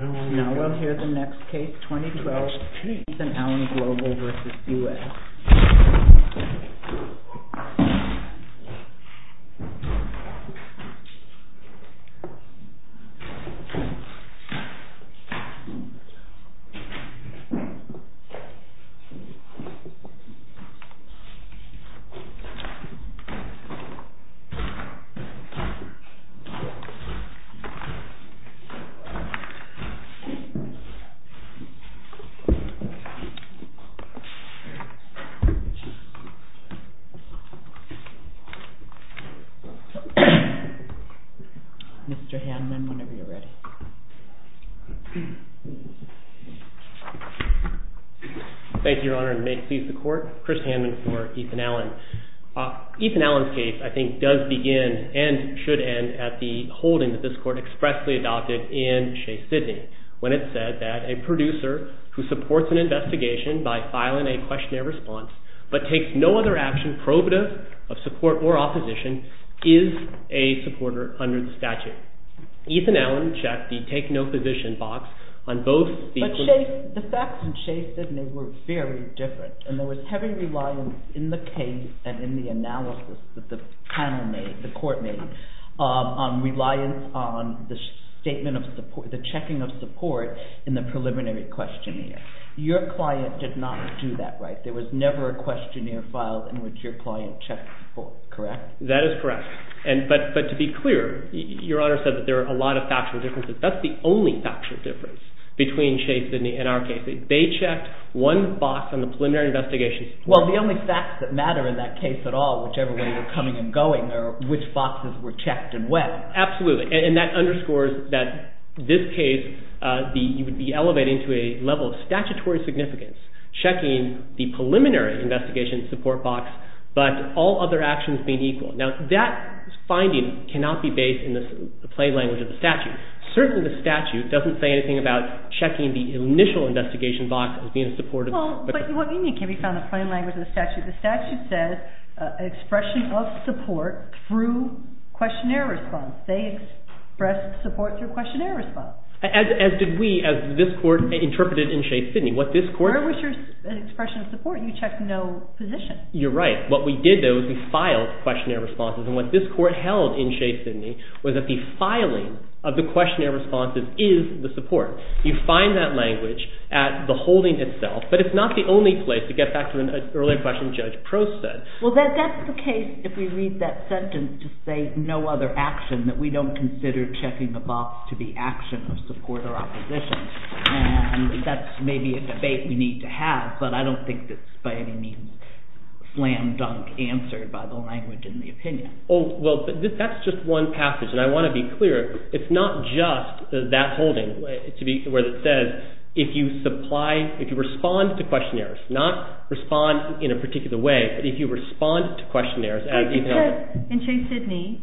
Now we'll hear the next case, 2012 ETHAN ALLEN GLOBAL v. United States Mr. Hanman, whenever you're ready. Thank you, Your Honor, and may it please the Court, Chris Hanman for Ethan Allen. Ethan Allen's case, I think, does begin and should end at the holding that this Court expressly adopted in Chase-Sydney, when it said that a producer who supports an investigation by filing a questionnaire response, but takes no other action probative of support or opposition, is a supporter under the statute. Ethan Allen checked the take-no-position box on both speakers. But the facts in Chase-Sydney were very different, and there was heavy reliance in the case and in the analysis that the panel made, the Court made, on reliance on the statement of support, the checking of support in the preliminary questionnaire. Your client did not do that right. There was never a questionnaire filed in which your client checked support, correct? That is correct. But to be clear, Your Honor said that there are a lot of factual differences. That's the only factual difference between Chase-Sydney and our case. They checked one box on the preliminary investigation. Well, the only facts that matter in that case at all, whichever way you're coming and going, are which boxes were checked and when. Absolutely. And that underscores that this case, you would be elevating to a level of statutory significance, checking the preliminary investigation support box, but all other actions being equal. Now, that finding cannot be based in the plain language of the statute. Certainly, the statute doesn't say anything about checking the initial investigation box as being supportive. Well, what you mean can be found in the plain language of the statute. The statute says expression of support through questionnaire response. They expressed support through questionnaire response. As did we, as this Court interpreted in Chase-Sydney. What this Court... Where was your expression of support? You checked no position. You're right. What we did, though, is we filed questionnaire responses. And what this Court held in Chase-Sydney was that the filing of the questionnaire responses is the support. You find that language at the holding itself, but it's not the only place, to get back to an earlier question Judge Prost said. Well, that's the case if we read that sentence to say no other action, that we don't consider checking the box to be action of support or opposition. And that's maybe a debate we need to have, but I don't think that's by any means slam-dunk answered by the language in the opinion. Oh, well, that's just one passage. And I want to be clear, it's not just that holding where it says, if you supply... If you do not respond in a particular way, but if you respond to questionnaires... In Chase-Sydney,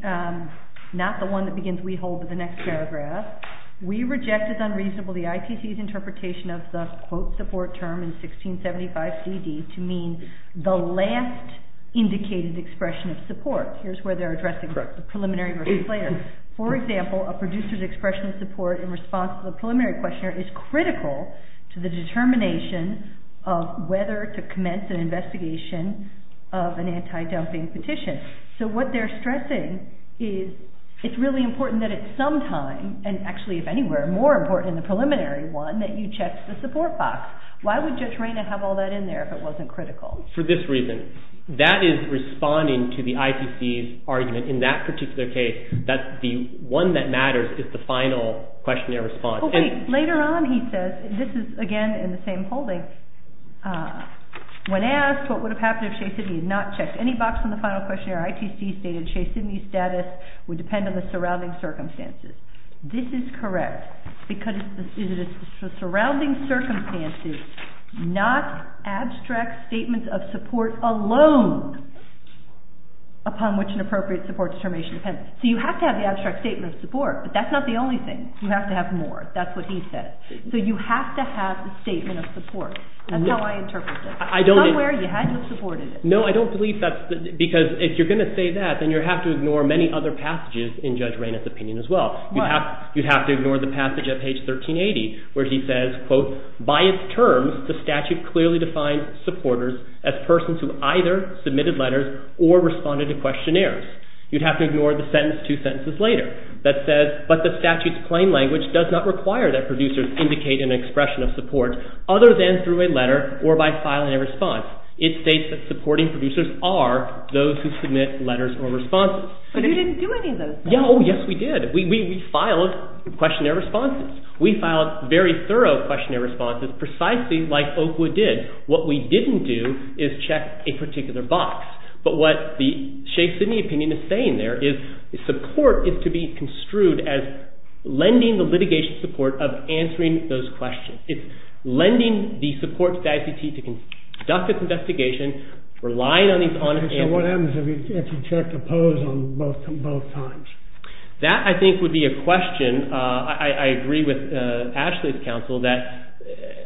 not the one that begins we hold, but the next paragraph, we reject as unreasonable the ITC's interpretation of the quote support term in 1675 CD to mean the last indicated expression of support. Here's where they're addressing the preliminary versus later. For example, a producer's expression of support in response to the preliminary questionnaire is critical to the determination of whether to commence an investigation of an anti-dumping petition. So what they're stressing is it's really important that at some time, and actually if anywhere, more important in the preliminary one, that you check the support box. Why would Judge Reyna have all that in there if it wasn't critical? For this reason, that is responding to the ITC's argument in that particular case, that the one that matters is the final questionnaire response. Later on, he says, this is again in the same holding, when asked what would have happened if Chase-Sydney had not checked any box in the final questionnaire, ITC stated Chase-Sydney's status would depend on the surrounding circumstances. This is correct, because it is the surrounding circumstances, not abstract statements of support alone upon which an appropriate support determination depends. So you have to have the what he said. So you have to have the statement of support. That's how I interpret it. I don't believe that, because if you're going to say that, then you have to ignore many other passages in Judge Reyna's opinion as well. You'd have to ignore the passage at page 1380, where he says, quote, by its terms, the statute clearly defines supporters as persons who either submitted letters or responded to questionnaires. You'd have to ignore the sentence two sentences later that says, but the statute's plain language does not require that producers indicate an expression of support other than through a letter or by filing a response. It states that supporting producers are those who submit letters or responses. But you didn't do any of those things. Yeah, oh yes we did. We filed questionnaire responses. We filed very thorough questionnaire responses, precisely like Oakwood did. What we didn't do is check a particular box. But what the to be construed as lending the litigation support of answering those questions. It's lending the support to the ICT to conduct its investigation, relying on these on-and-offs. So what happens if you check oppose on both times? That, I think, would be a question. I agree with Ashley's counsel that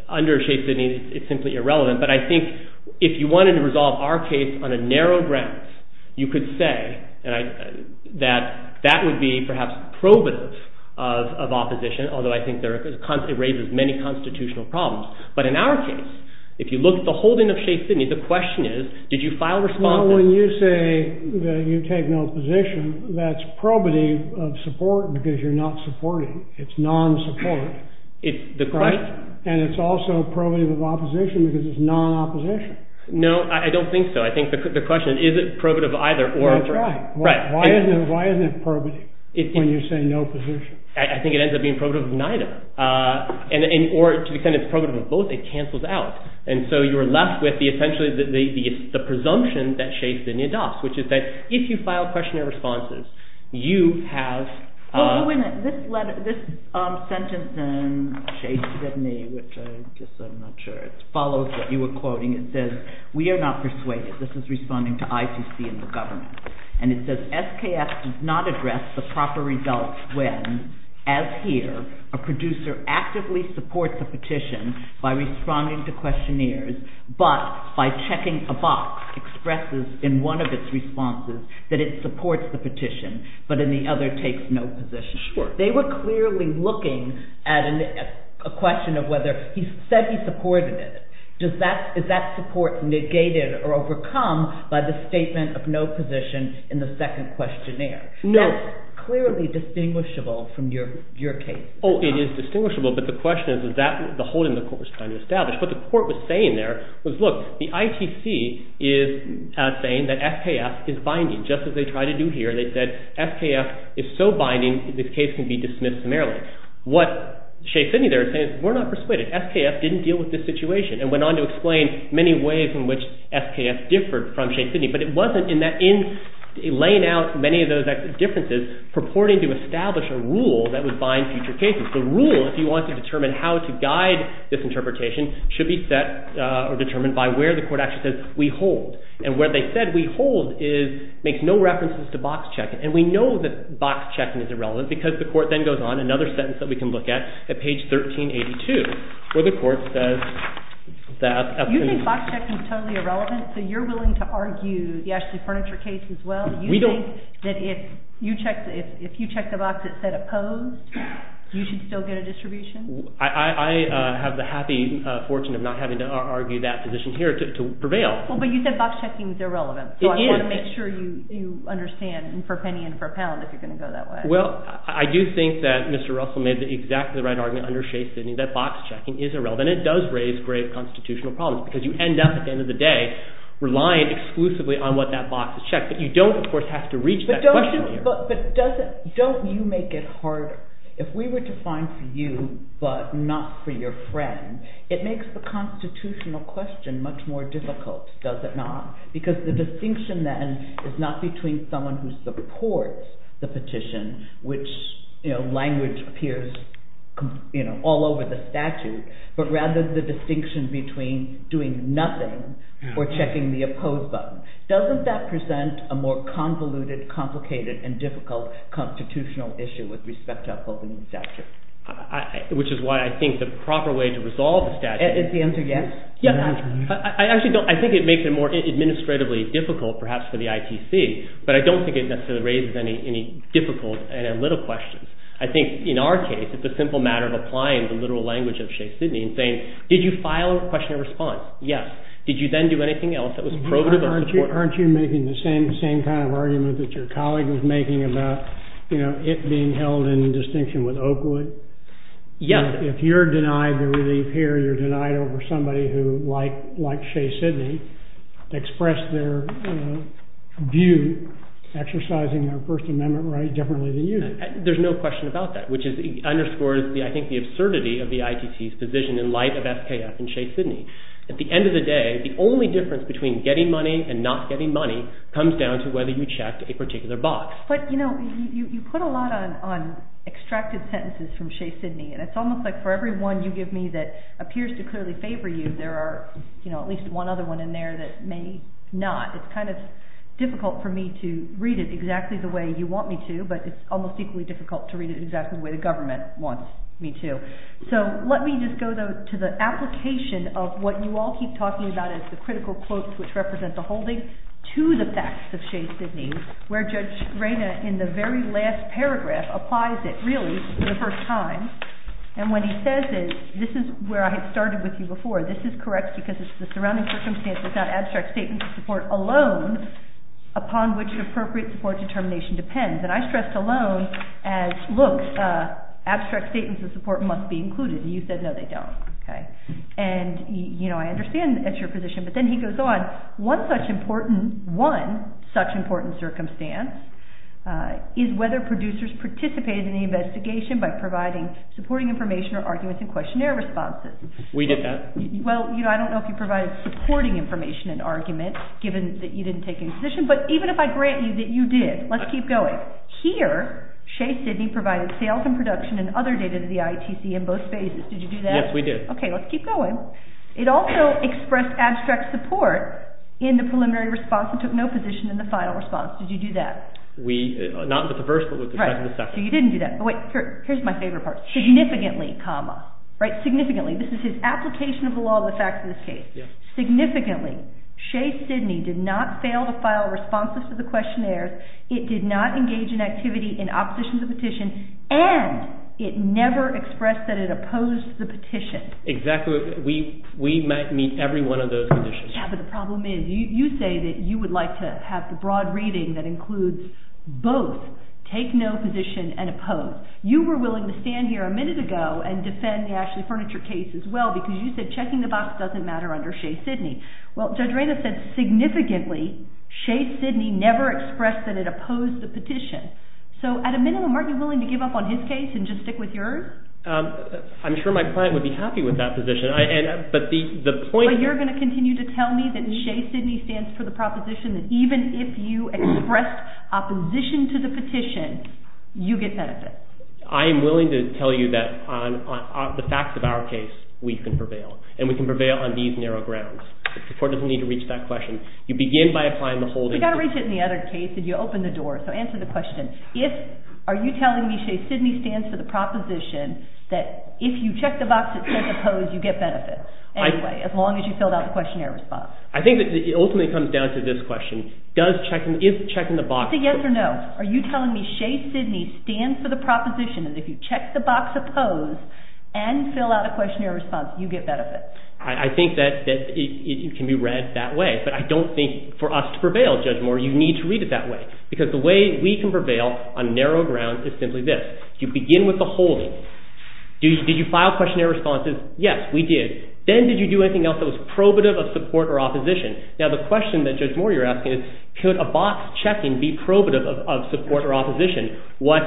under a shape-shifting it's simply irrelevant. But I think if you wanted to resolve our case on a narrow grounds, you could say that that would be, perhaps, probative of opposition, although I think it raises many constitutional problems. But in our case, if you look at the holding of shape-shifting, the question is, did you file responses? Well, when you say that you take no position, that's probative of support because you're not supporting. It's non-support. And it's also probative of opposition because it's non-opposition. No, I don't think so. I think the question is, is it probative of either? That's right. Why isn't it probative when you say no position? I think it ends up being probative of neither. Or to the extent it's probative of both, it cancels out. And so you're left with, essentially, the presumption that shape-shifting adopts, which is that if you file questionnaire responses, you have... Well, this sentence in shape-shifting, which I guess I'm not sure it follows what you were saying, it says, we are not persuaded. This is responding to ITC and the government. And it says, SKF does not address the proper results when, as here, a producer actively supports a petition by responding to questionnaires, but by checking a box expresses in one of its responses that it supports the petition, but in the other takes no position. Sure. They were clearly looking at a question of whether he said he supported it. Is that support negated or overcome by the statement of no position in the second questionnaire? No. That's clearly distinguishable from your case. Oh, it is distinguishable, but the question is, is that the holding the court was trying to establish? What the court was saying there was, look, the ITC is saying that SKF is binding, just as they tried to do here. They said SKF is so binding, this case can be dismissed summarily. What shape-shifting there is saying is, we're not persuaded. SKF didn't deal with this situation and went on to explain many ways in which SKF differed from shape-shifting, but it wasn't in that, in laying out many of those differences, purporting to establish a rule that would bind future cases. The rule, if you want to determine how to guide this interpretation, should be set or determined by where the court actually says, we hold. And where they said, we hold, makes no references to box checking. And we know that box checking is irrelevant because the court then goes on, another sentence that we can look at, at page 1382, where the court says that… You think box checking is totally irrelevant? So you're willing to argue the Ashley Furniture case as well? You think that if you check the box that said opposed, you should still get a distribution? I have the happy fortune of not having to argue that position here to prevail. Well, but you said box checking is irrelevant. It is. So I want to make sure you understand, and for a penny and for a pound, if you're going to go that way. Well, I do think that Mr. Russell made exactly the right argument under Shea Sidney that box checking is irrelevant. It does raise grave constitutional problems because you end up, at the end of the day, relying exclusively on what that box has checked. But you don't, of course, have to reach that question here. But don't you make it harder? If we were to find for you, but not for your friend, it makes the constitutional question much more difficult, does it not? Because the distinction then is not between someone who supports the petition, which language appears all over the statute, but rather the distinction between doing nothing or checking the oppose button. Doesn't that present a more convoluted, complicated, and difficult constitutional issue with respect to upholding the statute? Which is why I think the proper way to resolve the statute— Is the answer yes? I actually don't. I think it makes it more administratively difficult, perhaps, for the ITC, but I don't think it necessarily raises any difficult and little questions. I think in our case, it's a simple matter of applying the literal language of Shea Sidney and saying, did you file a question and response? Yes. Did you then do anything else that was probative or supportive? Aren't you making the same kind of argument that your colleague was making about it being held in distinction with Oakwood? Yes. If you're denied the relief here, you're denied over somebody who, like Shea Sidney, expressed their view exercising their First Amendment right differently than you. There's no question about that, which underscores, I think, the absurdity of the ITC's position in light of FKF and Shea Sidney. At the end of the day, the only difference between getting money and not getting money comes down to whether you checked a particular box. You put a lot on extracted sentences from Shea Sidney. It's almost like for every one you give me that appears to clearly favor you, there are at least one other one in there that may not. It's difficult for me to read it exactly the way you want me to, but it's almost equally difficult to read it exactly the way the government wants me to. Let me just go to the application of what you all keep talking about as the critical quotes which represent the holding to the facts of Shea Sidney, where Judge Reyna, in the very last paragraph, applies it, really, for the first time. When he says it, this is where I had started with you before. This is correct because it's the surrounding circumstances, not abstract statements of support alone, upon which an appropriate support determination depends. I stressed alone as, look, abstract statements of support must be included. You said, no, they don't. I understand that's your position, but then he goes on. One such important circumstance is whether producers participated in the investigation by providing supporting information or arguments and questionnaire responses. We did that. Well, I don't know if you provided supporting information and arguments, given that you didn't take any position, but even if I grant you that you did, let's keep going. Here, Shea Sidney provided sales and production and other data to the ITC in both phases. Did you do that? Yes, we did. Let's keep going. It also expressed abstract support in the preliminary response and took no position in the final response. Did you do that? Not with the first, but with the first and the second. You didn't do that. Here's my favorite part. Significantly, comma. Significantly. This is his application of the law of the facts in this case. Significantly, Shea Sidney did not fail to file responses to the questionnaires. It did not engage in activity in opposition to the petition, and it never expressed that it opposed the petition. Exactly. We might meet every one of those conditions. Yeah, but the problem is, you say that you would like to have the broad reading that includes both take no position and oppose. You were willing to stand here a minute ago and defend the Ashley Furniture case as well, because you said checking the box doesn't matter under Shea Sidney. Well, Judge Reyna said significantly, Shea Sidney never expressed that it opposed the petition. So at a minimum, aren't you willing to give up on his case and just stick with yours? I'm sure my client would be happy with that position, but the point is... But you're going to continue to tell me that Shea Sidney stands for the proposition that even if you expressed opposition to the petition, you get benefit. I am willing to tell you that on the facts of our case, we can prevail, and we can prevail on these narrow grounds. The court doesn't need to reach that question. You begin by applying the whole... You've got to reach it in the other case, and you open the door, so answer the question. If, are you telling me Shea Sidney stands for the proposition that if you check the box that says oppose, you get benefit, anyway, as long as you filled out the questionnaire response? I think that it ultimately comes down to this question. Does checking, if checking the box... Is it yes or no? Are you telling me Shea Sidney stands for the proposition that if you check the box oppose and fill out a questionnaire response, you get benefit? I think that it can be read that way, but I don't think for us to prevail, Judge Moore, you need to read it that way, because the way we can prevail on narrow ground is simply this. You begin with the holding. Did you file questionnaire responses? Yes, we did. Then did you do anything else that was probative of support or opposition? Now, the question that, Judge Moore, you're asking is, could a box checking be probative of support or opposition? What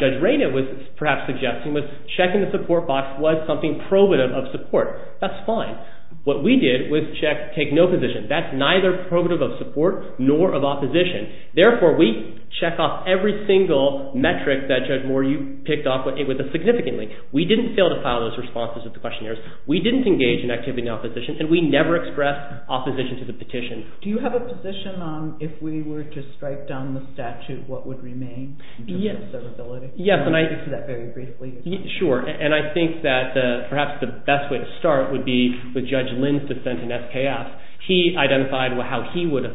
Judge Reyna was perhaps suggesting was checking the support box was something probative of support. That's fine. What we did was take no position. That's neither probative of support nor of opposition. Therefore, we check off every single metric that, Judge Moore, you picked off significantly. We didn't fail to file those responses of the questionnaires. We didn't engage in activity in opposition, and we never expressed opposition to the petition. Do you have a position on if we were to strike down the statute, what would remain in terms of observability? Yes. I think that perhaps the best way to start would be with Judge Lin's dissent in SKF. He identified how he would have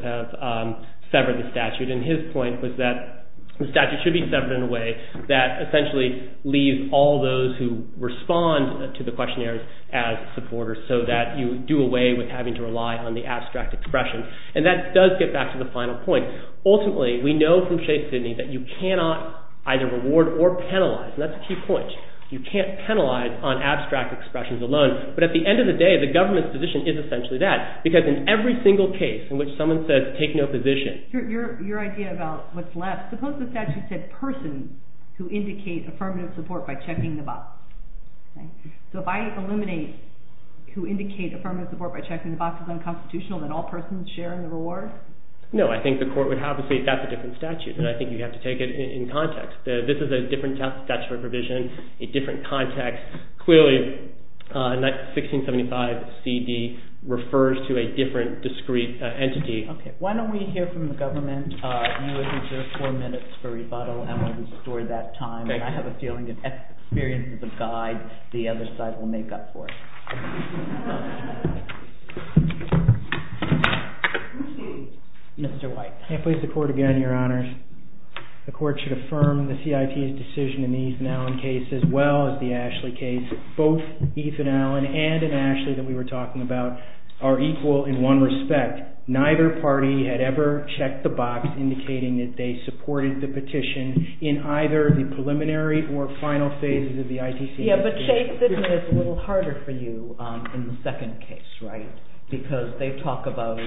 severed the statute, and his point was that the statute should be severed in a way that essentially leaves all those who respond to the questionnaires as supporters, so that you do away with having to rely on the abstract expression. That does get back to the final point. Ultimately, we know from Shea Sidney that you cannot either reward or penalize, and that's a key point. You can't penalize on abstract expressions alone, but at the end of the day, the government's position is essentially that, because in every single case in which someone says, take no position. Your idea about what's left, suppose the statute said persons who indicate affirmative support by checking the box. If I eliminate who indicate affirmative support by checking the box as unconstitutional, then all persons share in the reward? No. I think the court would have to say that's a different statute, and I think you have to take it in context. This is a different statute of provision, a different context. Clearly, 1675 CD refers to a different discrete entity. Okay. Why don't we hear from the government? You have reserved four minutes for rebuttal, and we'll restore that time. I have a feeling, in experience as a guide, the other side will make up for it. Mr. White. I please the court again, Your Honors. The court should affirm the CIT's decision in the Ethan Allen case as well as the Ashley case. Both Ethan Allen and an Ashley that we were talking about are equal in one respect. Neither party had ever checked the box indicating that they supported the petition in either the preliminary or final phases of the ITC But, Chase, this is a little harder for you in the second case, right? Because they talk about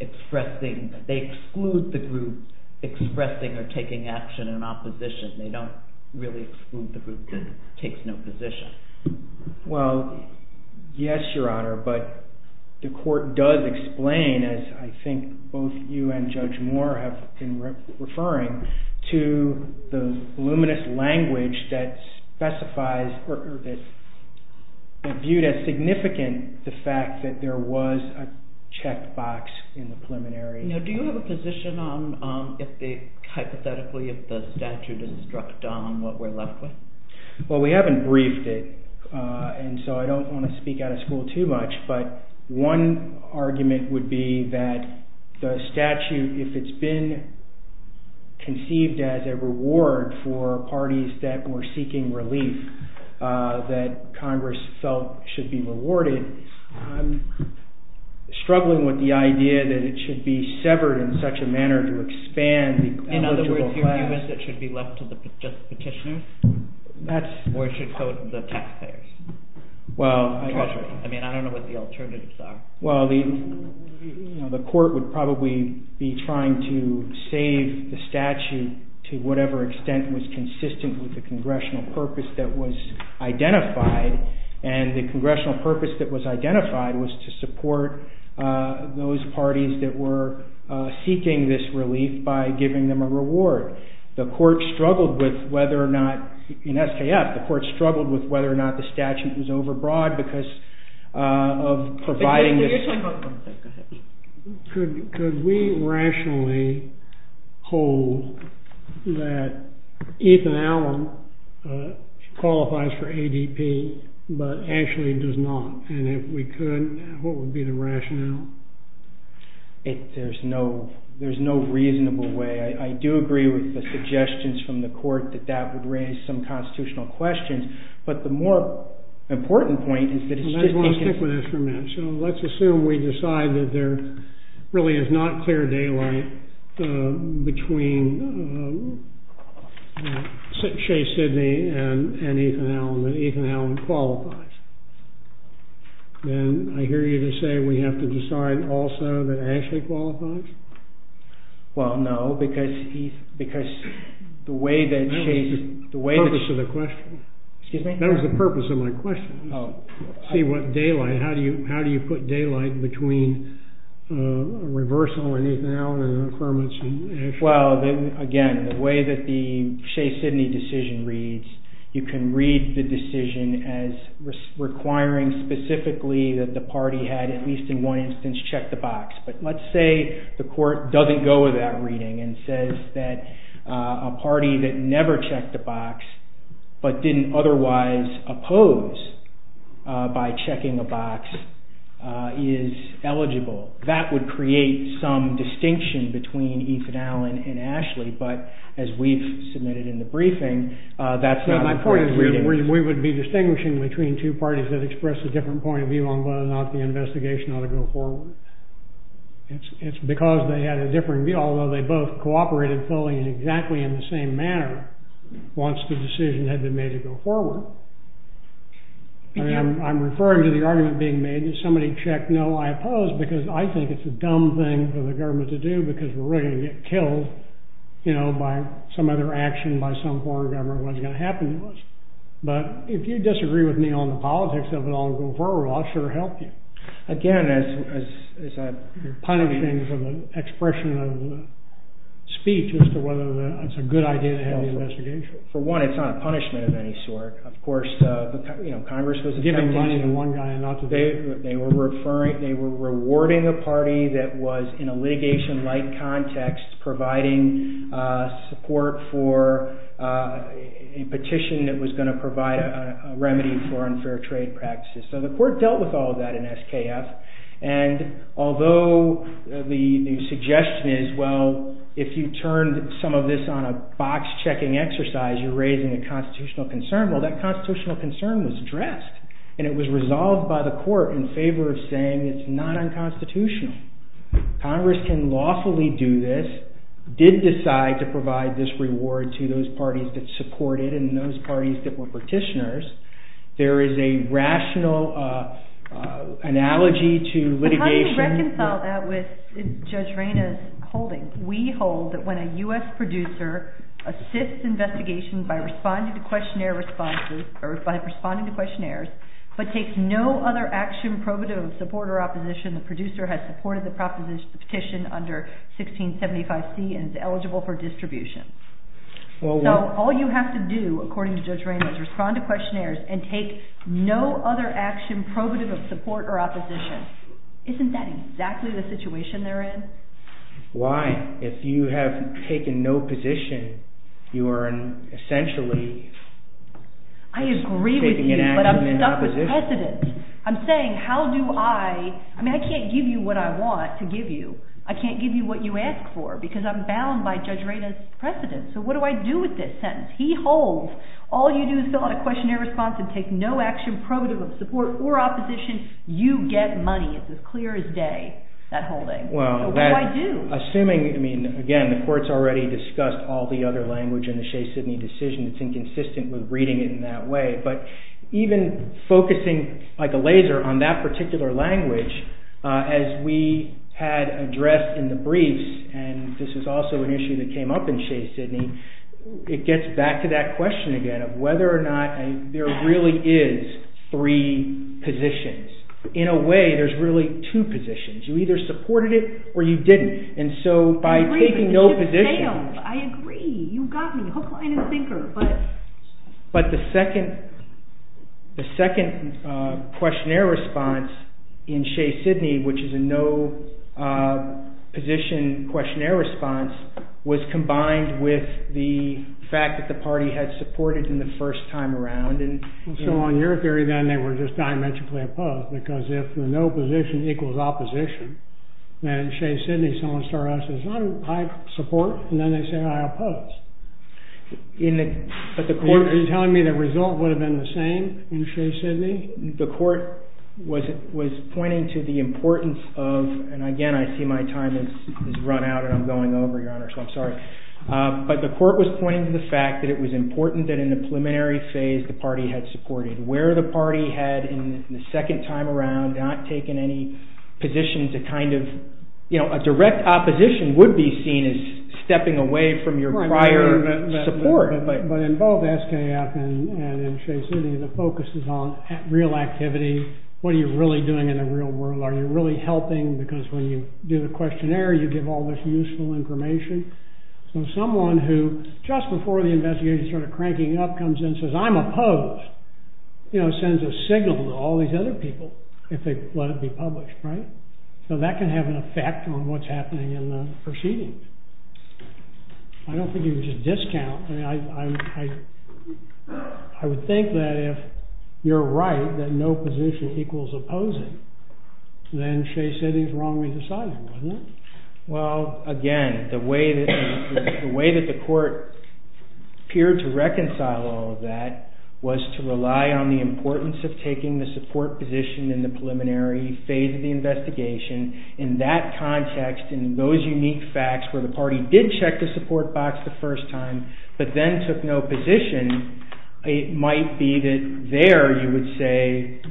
expressing, they exclude the group expressing or taking action in opposition. They don't really exclude the group that takes no position. Well, yes, Your Honor, but the court does explain, as I think both you and Judge Moore have been referring, to the voluminous language that specifies, or that's viewed as significant, the fact that there was a checkbox in the preliminary. Now, do you have a position on if they, hypothetically, if the statute is struck down, what we're left with? Well, we haven't briefed it, and so I don't want to speak out of school too much, but one argument would be that the statute, if it's been conceived as a reward for parties that were seeking relief that Congress felt should be rewarded, I'm struggling with the idea that it should be severed in such a manner to expand the In other words, your view is that it should be left to the petitioners? Or it should go to the taxpayers? Well, I mean, I don't know what the alternatives are. Well, the court would probably be trying to save the statute to whatever extent was consistent with the congressional purpose that was identified, and the congressional purpose that was identified was to support those parties that were seeking this relief by giving them a reward. The court struggled with whether or not, in SKF, the court struggled with whether or not the statute was overbroad because of providing... Go ahead. Could we rationally hold that Ethan Allen qualifies for ADP, but actually does not? And if we could, what would be the rationale? There's no reasonable way. I do agree with the suggestions from the court that that would raise some constitutional questions. But the more important point is that it's just... I just want to stick with this for a minute. So let's assume we decide that there really is not clear daylight between Shea Sidney and Ethan Allen, that Ethan Allen qualifies. Then I hear you to say we have to decide also that Ashley qualifies? Well, no, because the way that... That was the purpose of the question. Excuse me? That was the purpose of my question. See what daylight... How do you put daylight between reversal and Ethan Allen and affirmance and Ashley? Well, again, the way that the Shea Sidney decision reads, you can read the decision as requiring specifically that the party had, at least in one instance, check the box. But let's say the court doesn't go with that reading and says that a party that never checked the box but didn't otherwise oppose by checking a box is eligible. That would create some distinction between Ethan Allen and Ashley. But as we've submitted in the briefing, that's not... My point is we would be distinguishing between two parties that express a different point of view on whether or not the investigation ought to go forward. It's because they had a different view, although they both cooperated fully and exactly in the same manner once the decision had been made to go forward. I'm referring to the argument being made that somebody checked, no, I oppose because I think it's a dumb thing for the government to do because we're really going to get killed by some other action by some foreign government. What's going to happen to us? But if you disagree with me on the politics of it all and go forward, I'll sure help you. Again, as a... You're punishing from an expression of speech as to whether it's a good idea to have the investigation. For one, it's not a punishment of any sort. Of course, Congress was attempting... Giving money to one guy and not to the other. They were rewarding a party that was in a litigation-like context providing support for a petition that was going to provide a remedy for unfair trade practices. The court dealt with all of that in SKF and although the suggestion is, well, if you turn some of this on a box-checking exercise, you're raising a constitutional concern. Well, that constitutional concern was addressed and it was resolved by the court in favor of saying it's not unconstitutional. Congress can lawfully do this, did decide to provide this reward to those parties that supported and those parties that were petitioners. There is a rational analogy to litigation... How do you reconcile that with Judge Reyna's holding? We hold that when a US producer assists investigation by responding to questionnaire responses or by responding to questionnaires but takes no other action provative of support or opposition, the producer has supported the petition under 1675C and is eligible for distribution. So all you have to do, according to Judge Reyna, is respond to questionnaires and take no other action provative of support or opposition. Isn't that exactly the situation they're in? Why? If you have taken no position, you are essentially... I agree with you but I'm stuck with precedent. I'm saying how do I... I mean, I can't give you what I want to give you. I can't give you what you ask for because I'm bound by Judge Reyna's precedent. So what do I do with this sentence? He holds. All you do is fill out a questionnaire response and take no action provative of support or opposition. You get money. It's as clear as day, that holding. So what do I do? Assuming... I mean, again, the court's already discussed all the other language in the Shea-Sidney decision. It's inconsistent with reading it in that way. But even focusing like a laser on that particular language, as we had addressed in the briefs, and this is also an issue that came up in Shea-Sidney, it gets back to that question again of whether or not there really is three positions. In a way, there's really two positions. You either supported it or you didn't. And so by taking no position... I agree. You got me, hook, line, and sinker. But the second questionnaire response in Shea-Sidney, which is a no position questionnaire response, was combined with the fact that the party had supported it in the first time around. And so on your theory, then, they were just diametrically opposed. Because if the no position equals opposition, then Shea-Sidney, someone started out and says, I support. And then they say, I oppose. Are you telling me the result would have been the same in Shea-Sidney? The court was pointing to the importance of... And again, I see my time has run out and I'm going over, Your Honor, so I'm sorry. But the court was pointing to the fact that it was important that in the preliminary phase, the party had supported. Where the party had, in the second time around, not taken any position to kind of... A direct opposition would be seen as stepping away from your prior support. But in both SKF and in Shea-Sidney, the focus is on real activity. What are you really doing in the real world? Are you really helping? Because when you do the questionnaire, you give all this useful information. So someone who, just before the investigation started cranking up, comes in and says, I'm opposed, sends a signal to all these other people if they let it be published, right? So that can have an effect on what's happening in the proceedings. I don't think it was just discount. I would think that if you're right, that no position equals opposing, then Shea-Sidney is wrongly decided, wasn't it? Well, again, the way that the court appeared to reconcile all of that was to rely on the In that context, in those unique facts where the party did check the support box the first time, but then took no position, it might be that there you would say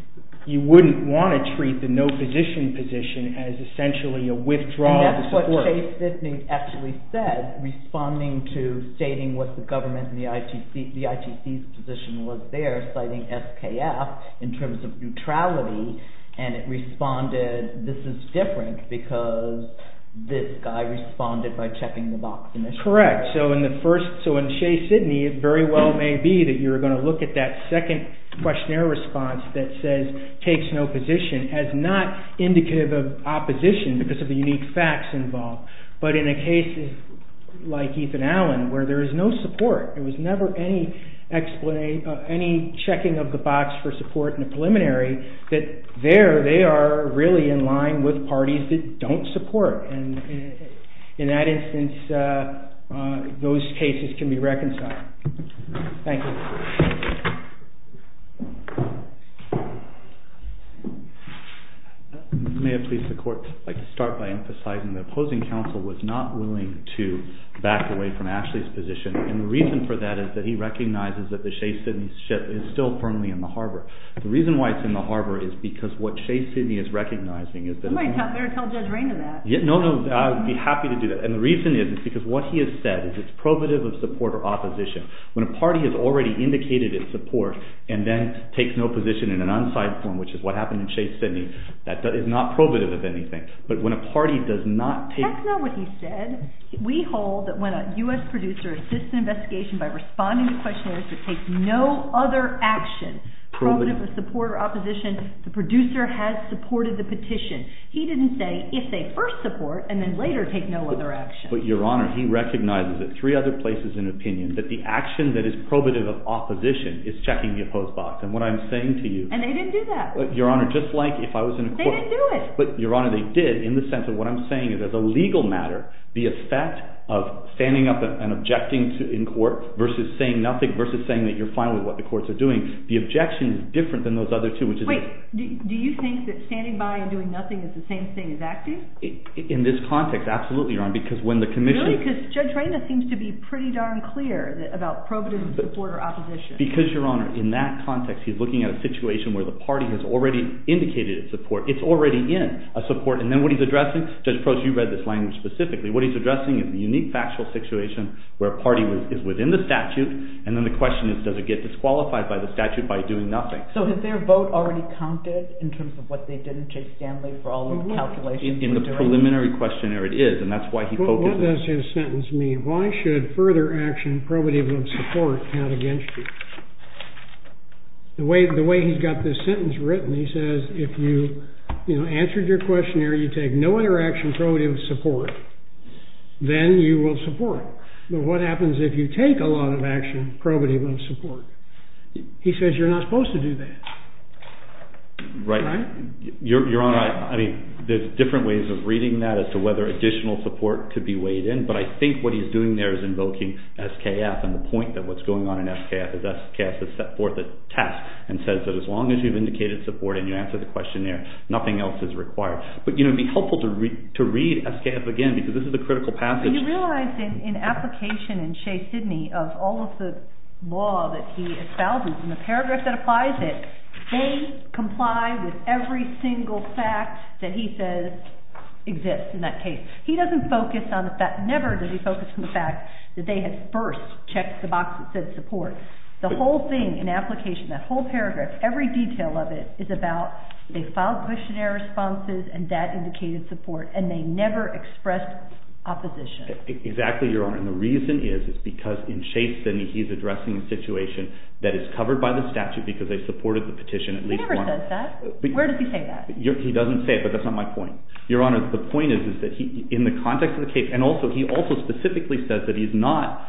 you wouldn't want to treat the no position position as essentially a withdrawal of support. And that's what Shea-Sidney actually said, responding to stating what the government and the ITC's position was there, citing SKF in terms of neutrality. And it responded, this is different because this guy responded by checking the box. Correct. So in Shea-Sidney, it very well may be that you're going to look at that second questionnaire response that says, takes no position, as not indicative of opposition because of the unique facts involved. But in a case like Ethan Allen, where there is no support, there was never any checking of the box for support in the preliminary, that there they are really in line with parties that don't support. And in that instance, those cases can be reconciled. Thank you. May I please, the court, like to start by emphasizing the opposing counsel was not willing to back away from Ashley's position. And the reason for that is that he recognizes that the Shea-Sidney ship is still permanently in the harbor. The reason why it's in the harbor is because what Shea-Sidney is recognizing is that... You might better tell Judge Rainer that. No, no, I would be happy to do that. And the reason is because what he has said is it's probative of support or opposition. When a party has already indicated its support and then takes no position in an unsigned form, which is what happened in Shea-Sidney, that is not probative of anything. But when a party does not take... by responding to questionnaires that take no other action, probative of support or opposition, the producer has supported the petition. He didn't say if they first support and then later take no other action. But Your Honor, he recognizes that three other places in opinion that the action that is probative of opposition is checking the opposed box. And what I'm saying to you... And they didn't do that. Your Honor, just like if I was in a court... They didn't do it. But Your Honor, they did in the sense of what I'm saying is as a legal matter, the effect of standing up and objecting in court versus saying nothing versus saying that you're fine with what the courts are doing, the objection is different than those other two, which is... Wait. Do you think that standing by and doing nothing is the same thing as acting? In this context, absolutely, Your Honor, because when the commission... Really? Because Judge Reyna seems to be pretty darn clear about probative of support or opposition. Because Your Honor, in that context, he's looking at a situation where the party has already indicated its support. It's already in a support. And then what he's addressing... Judge Proch, you read this language specifically. What he's addressing is the unique factual situation where a party is within the statute. And then the question is, does it get disqualified by the statute by doing nothing? So has their vote already counted in terms of what they did and take Stanley for all of the calculations he's doing? In the preliminary questionnaire, it is. And that's why he focuses... What does his sentence mean? Why should further action probative of support count against you? The way he's got this sentence written, he says, if you answered your questionnaire, you take no interaction probative of support. Then you will support. But what happens if you take a lot of action probative of support? He says you're not supposed to do that. Right. Your Honor, I mean, there's different ways of reading that as to whether additional support could be weighed in. But I think what he's doing there is invoking SKF. And the point that what's going on in SKF is SKF has set forth a test and says that as long as you've indicated support and you answer the questionnaire, nothing else is required. But, you know, it'd be helpful to read SKF again because this is a critical passage. And you realize in application in Shea Sidney of all of the law that he espouses in the paragraph that applies it, they comply with every single fact that he says exists in that case. He doesn't focus on the fact... Never does he focus on the fact that they had first checked the box that said support. The whole thing in application, that whole paragraph, every detail of it is about they indicated support and they never expressed opposition. Exactly, Your Honor. And the reason is, is because in Shea Sidney, he's addressing a situation that is covered by the statute because they supported the petition. He never says that. Where does he say that? He doesn't say it, but that's not my point. Your Honor, the point is, is that in the context of the case, and also he also specifically says that he's not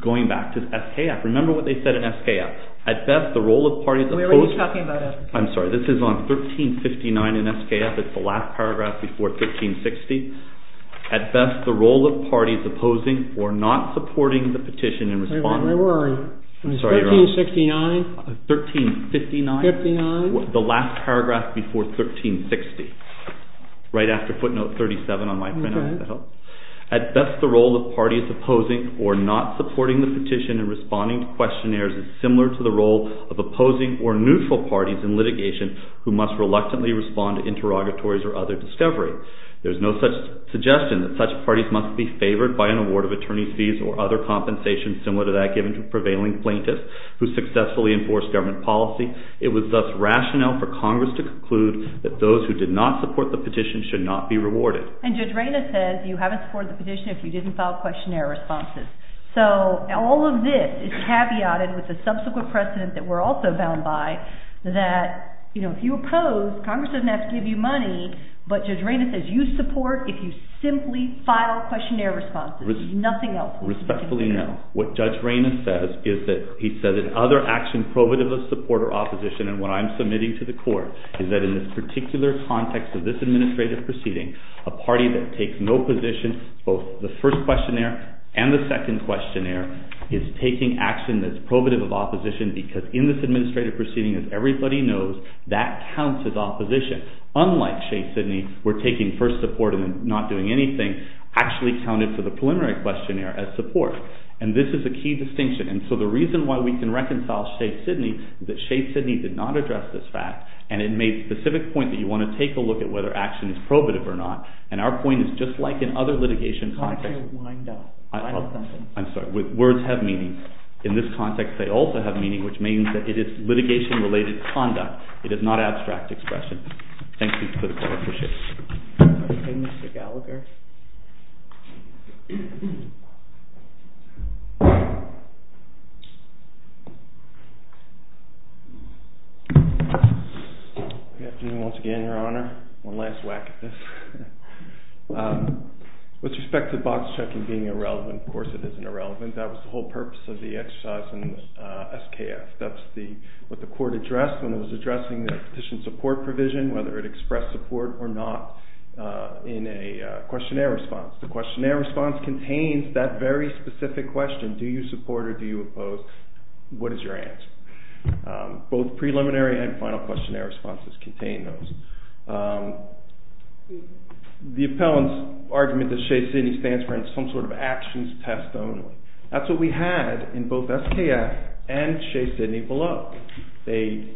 going back to SKF. Remember what they said in SKF. At best, the role of parties... Where were you talking about? I'm sorry. This is on 1359 in SKF. It's the last paragraph before 1360. At best, the role of parties opposing or not supporting the petition and responding... Where were we? I'm sorry, Your Honor. 1369? 1359. 59? The last paragraph before 1360. Right after footnote 37 on my printout, if that helps. At best, the role of parties opposing or not supporting the petition and responding to who must reluctantly respond to interrogatories or other discovery. There's no such suggestion that such parties must be favored by an award of attorney's fees or other compensation similar to that given to prevailing plaintiffs who successfully enforce government policy. It was thus rationale for Congress to conclude that those who did not support the petition should not be rewarded. And Judge Reyna says you haven't supported the petition if you didn't file questionnaire responses. So all of this is caveated with the subsequent precedent that we're also bound by that if you oppose, Congress doesn't have to give you money, but Judge Reyna says you support if you simply file questionnaire responses. Nothing else. Respectfully, no. What Judge Reyna says is that he says that other action probative of support or opposition, and what I'm submitting to the court, is that in this particular context of this administrative proceeding, a party that takes no position, both the first questionnaire and the second questionnaire, is taking action that's probative of opposition because in this administrative proceeding, as everybody knows, that counts as opposition. Unlike Shade Sidney, where taking first support and then not doing anything actually counted for the preliminary questionnaire as support. And this is a key distinction. And so the reason why we can reconcile Shade Sidney is that Shade Sidney did not address this fact, and it made a specific point that you want to take a look at whether action is probative or not. And our point is just like in other litigation contexts. Why don't you wind up? I'm sorry. Words have meaning. In this context, they also have meaning, which means that it is litigation-related conduct. It is not abstract expression. Thank you for the floor. Appreciate it. OK, Mr. Gallagher. Good afternoon once again, Your Honor. One last whack at this. With respect to box checking being irrelevant, of course it isn't irrelevant. That was the whole purpose of the exercise in SKF. That's what the court addressed when it was addressing the petition support provision, whether it expressed support or not, in a questionnaire response. The questionnaire response contains that very specific question, do you support or do you oppose, what is your answer? Both preliminary and final questionnaire responses contain those. The appellant's argument that Shade Sidney stands for is some sort of actions test only. That's what we had in both SKF and Shade Sidney below. The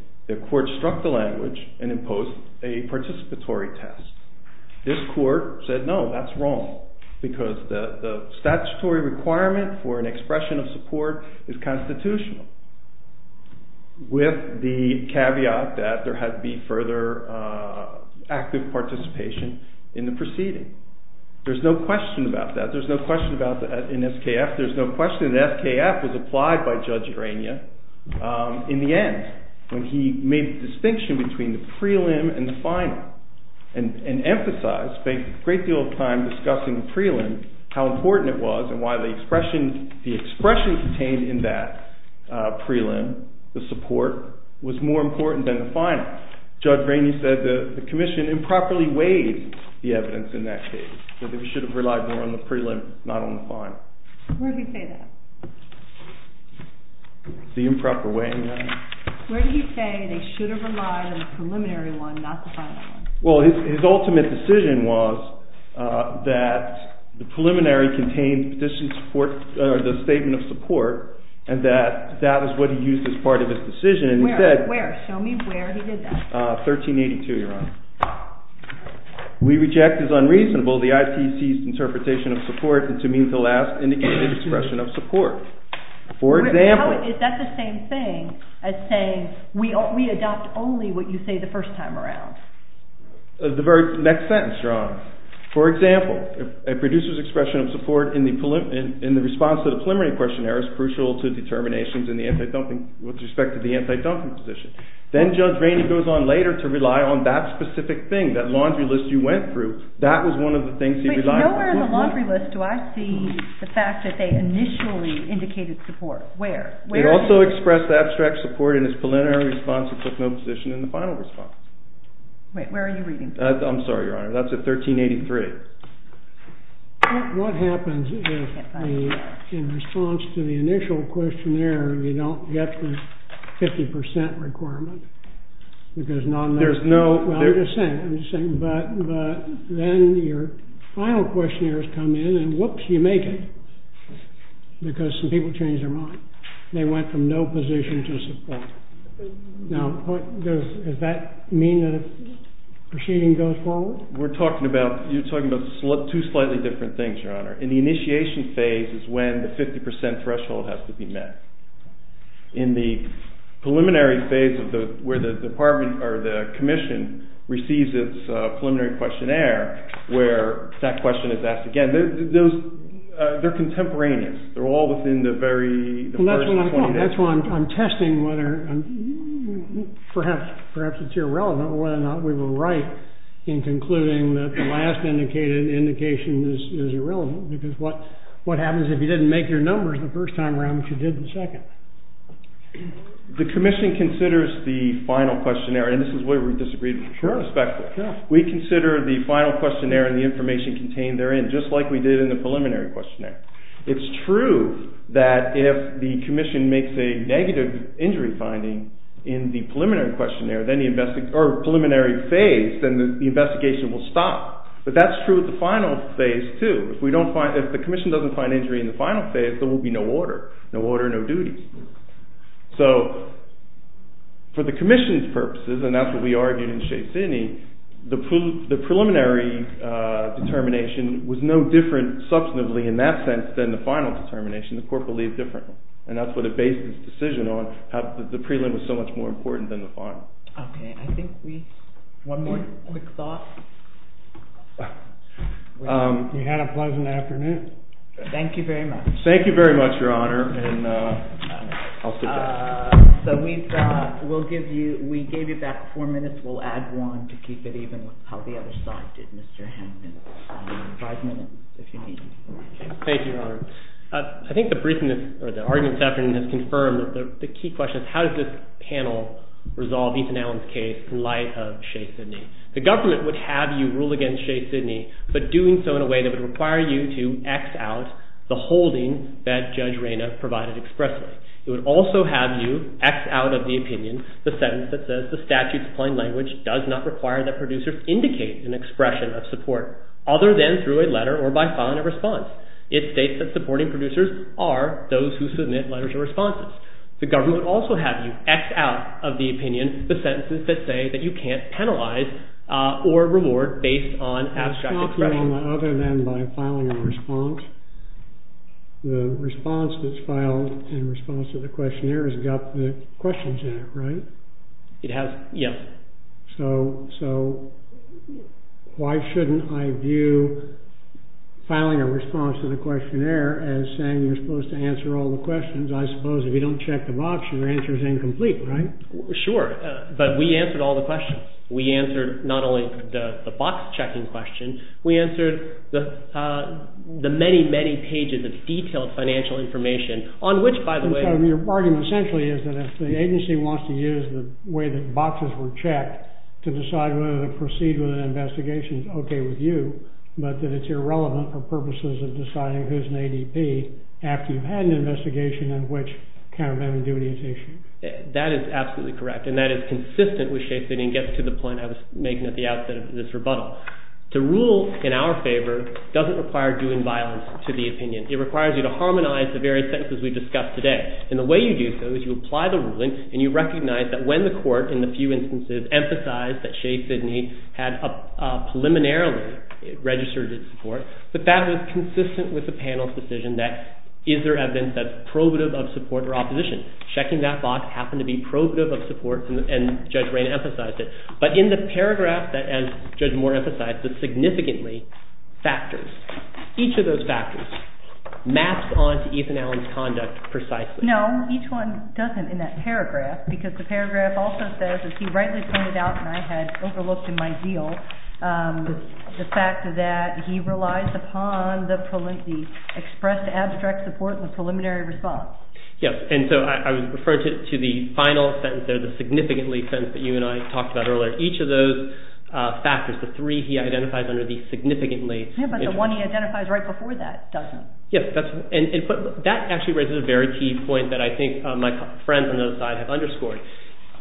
court struck the language and imposed a participatory test. This court said, no, that's wrong, because the statutory requirement for an expression of support is constitutional, with the caveat that there had to be further active participation in the proceeding. There's no question about that. There's no question about that in SKF. There's no question that SKF was applied by Judge Rania in the end, when he made the distinction between the prelim and the final, and emphasized, spent a great deal of time discussing the prelim, how important it was and why the expression contained in that prelim, the support, was more important than the final. Judge Rania said the commission improperly weighed the evidence in that case, that we should have relied more on the prelim, not on the final. Where did he say that? The improper weighing, Your Honor. Where did he say they should have relied on the preliminary one, not the final one? Well, his ultimate decision was that the preliminary contained the statement of support, and that that was what he used as part of his decision. Where? Where? Show me where he did that. 1382, Your Honor. We reject as unreasonable the IPC's interpretation of support, and to me, the last indicated expression of support. For example. Is that the same thing as saying, we adopt only what you say the first time around? The very next sentence, Your Honor. For example, a producer's expression of support in the response to the preliminary questionnaire is crucial to determinations with respect to the anti-dumping position. Then Judge Rania goes on later to rely on that specific thing, that laundry list you went through. That was one of the things he relied on. Nowhere in the laundry list do I see the fact that they initially indicated support. Where? It also expressed the abstract support in his preliminary response and took no position in the final response. Wait, where are you reading from? I'm sorry, Your Honor. That's at 1383. What happens if in response to the initial questionnaire, you don't get the 50% requirement? Because none of that. There's no. I'm just saying. But then your final questionnaires come in, and whoops, you make it. Because some people change their mind. They went from no position to support. Now, does that mean that a proceeding goes forward? We're talking about, you're talking about two slightly different things, Your Honor. In the initiation phase is when the 50% threshold has to be met. In the preliminary phase where the department or the commission receives its preliminary questionnaire where that question is asked again, they're contemporaneous. They're all within the very first 20 days. That's why I'm testing whether, perhaps it's irrelevant, whether or not we were right in concluding that the last indication is irrelevant. Because what happens if you didn't make your numbers the first time around, but you did in the second? The commission considers the final questionnaire, and this is where we disagreed from perspective. We consider the final questionnaire and the information contained therein, just like we did in the preliminary questionnaire. It's true that if the commission makes a negative injury finding in the preliminary questionnaire, or preliminary phase, then the investigation will stop. But that's true with the final phase, too. If the commission doesn't find injury in the final phase, there will be no order. No duties. So for the commission's purposes, and that's what we argued in Shaysini, the preliminary determination was no different, substantively, in that sense than the final determination. The court believed differently. And that's what it based its decision on, how the prelim was so much more important than the final. OK. I think we have one more quick thought. You had a pleasant afternoon. Thank you very much. Thank you very much, Your Honor. And I'll sit down. So we gave you back four minutes. We'll add one to keep it even with how the other side did, Mr. Hampton. Five minutes, if you need. Thank you, Your Honor. I think the argument this afternoon has confirmed that the key question is, how does this panel resolve Ethan Allen's case in light of Shaysini? The government would have you rule against Shaysini, but doing so in a way that would require you to X out the holding that Judge Reyna provided expressly. It would also have you X out of the opinion the sentence that says, the statute's plain language does not require that producers indicate an expression of support other than through a letter or by filing a response. It states that supporting producers are those who submit letters of responses. The government would also have you X out of the opinion the sentences that say that you can't penalize or reward based on abstract expression. Other than by filing a response. The response that's filed in response to the questionnaire has got the questions in it, right? It has, yeah. So why shouldn't I view filing a response to the questionnaire as saying you're supposed to answer all the questions? I suppose if you don't check the box, your answer is incomplete, right? Sure, but we answered all the questions. We answered not only the box checking question. We answered the many, many pages of detailed financial information on which, by the way. And so your argument essentially is that if the agency wants to use the way that boxes were checked to decide whether to proceed with an investigation is okay with you, but that it's irrelevant for purposes of deciding who's an ADP after you've had an investigation in which countermeasure duty is issued. That is absolutely correct. And that is consistent with Shea sitting and gets to the point I was making at the outset of this rebuttal. To rule in our favor doesn't require doing violence to the opinion. It requires you to harmonize the various sentences we've discussed today. And the way you do so is you apply the ruling and you recognize that when the court, in the few instances, emphasized that Shea Sidney had preliminarily registered his support, that that was consistent with the panel's decision that is there evidence that's probative of support or opposition? Checking that box happened to be probative of support and Judge Rain emphasized it. But in the paragraph that Judge Moore emphasized that significantly factors, each of those factors maps onto Ethan Allen's conduct precisely. No, each one doesn't in that paragraph because the paragraph also says, as he rightly pointed out and I had overlooked in my deal, the fact that he relies upon the expressed abstract support and the preliminary response. Yes. And so I was referring to the final sentence there, the significantly sentence that you and I talked about earlier. Each of those factors, the three he identifies under the significantly. Yes, but the one he identifies right before that doesn't. Yes, and that actually raises a very key point that I think my friends on the other side have underscored.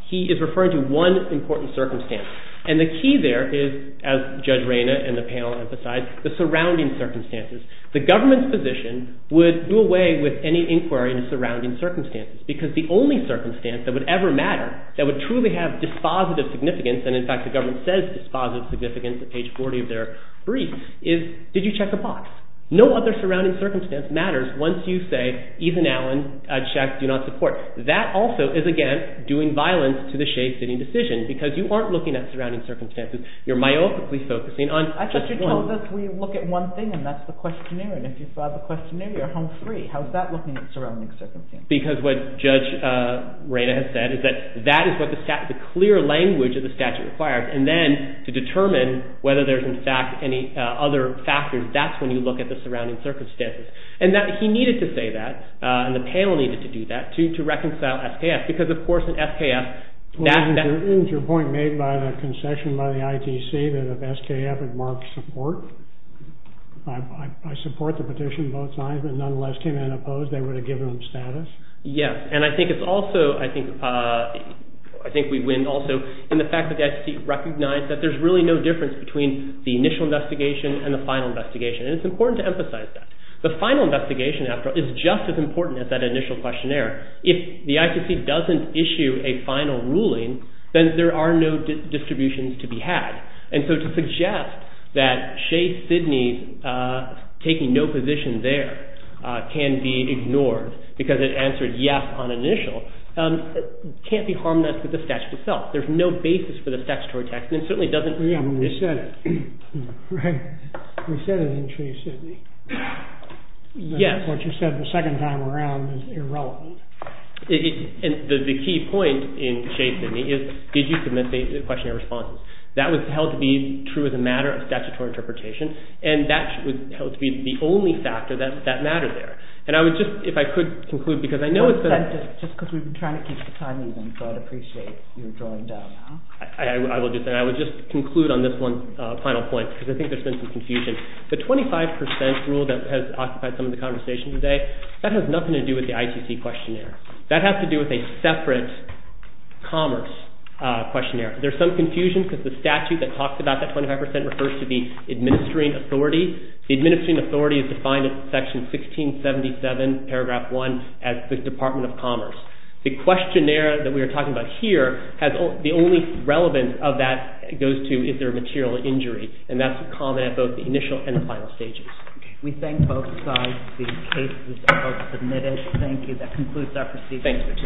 He is referring to one important circumstance. And the key there is, as Judge Rain and the panel emphasized, the surrounding circumstances. The government's position would do away with any inquiry in the surrounding circumstances because the only circumstance that would ever matter, that would truly have dispositive significance, and in fact, the government says dispositive significance at page 40 of their brief, is did you check a box? No other surrounding circumstance matters once you say, Ethan Allen, I checked, do not support. That also is, again, doing violence to the shade sitting decision because you aren't looking at surrounding circumstances. You're myopically focusing on just one. I thought you told us we look at one thing and that's the questionnaire. And if you saw the questionnaire, you're home free. How's that looking at surrounding circumstances? Because what Judge Raina has said is that that is what the statute, the clear language of the statute requires. And then to determine whether there's in fact any other factors, that's when you look at the surrounding circumstances. And that he needed to say that, and the panel needed to do that, to reconcile SKF because of course in SKF. Isn't your point made by the concession by the ITC that if SKF had marked support, I support the petition both sides, but nonetheless came in and opposed, they would have given them status? Yes, and I think it's also, I think we win also in the fact that the ITC recognized that there's really no difference between the initial investigation and the final investigation. And it's important to emphasize that. The final investigation after is just as important as that initial questionnaire. If the ITC doesn't issue a final ruling, then there are no distributions to be had. And so to suggest that Shea-Sydney's taking no position there can be ignored because it answered yes on initial, can't be harmonized with the statute itself. There's no basis for the statutory text, and it certainly doesn't... Yeah, we said it, right? We said it in Shea-Sydney. Yes. What you said the second time around is irrelevant. And the key point in Shea-Sydney is, did you submit a questionnaire response? That was held to be true as a matter of statutory interpretation. And that was held to be the only factor that mattered there. And I would just, if I could conclude, because I know it's been... We sent it, just because we've been trying to keep the time even, so I'd appreciate your drawing down, huh? I will just, and I would just conclude on this one final point, because I think there's been some confusion. The 25% rule that has occupied some of the conversation today, that has nothing to do with the ITC questionnaire. That has to do with a separate commerce questionnaire. There's some confusion, because the statute that talks about that 25% refers to the administering authority. The administering authority is defined in Section 1677, Paragraph 1, as the Department of Commerce. The questionnaire that we are talking about here, the only relevance of that goes to, is there a material injury? And that's common at both the initial and the final stages. We thank both sides. The cases are both submitted. Thank you. That concludes our proceedings for today.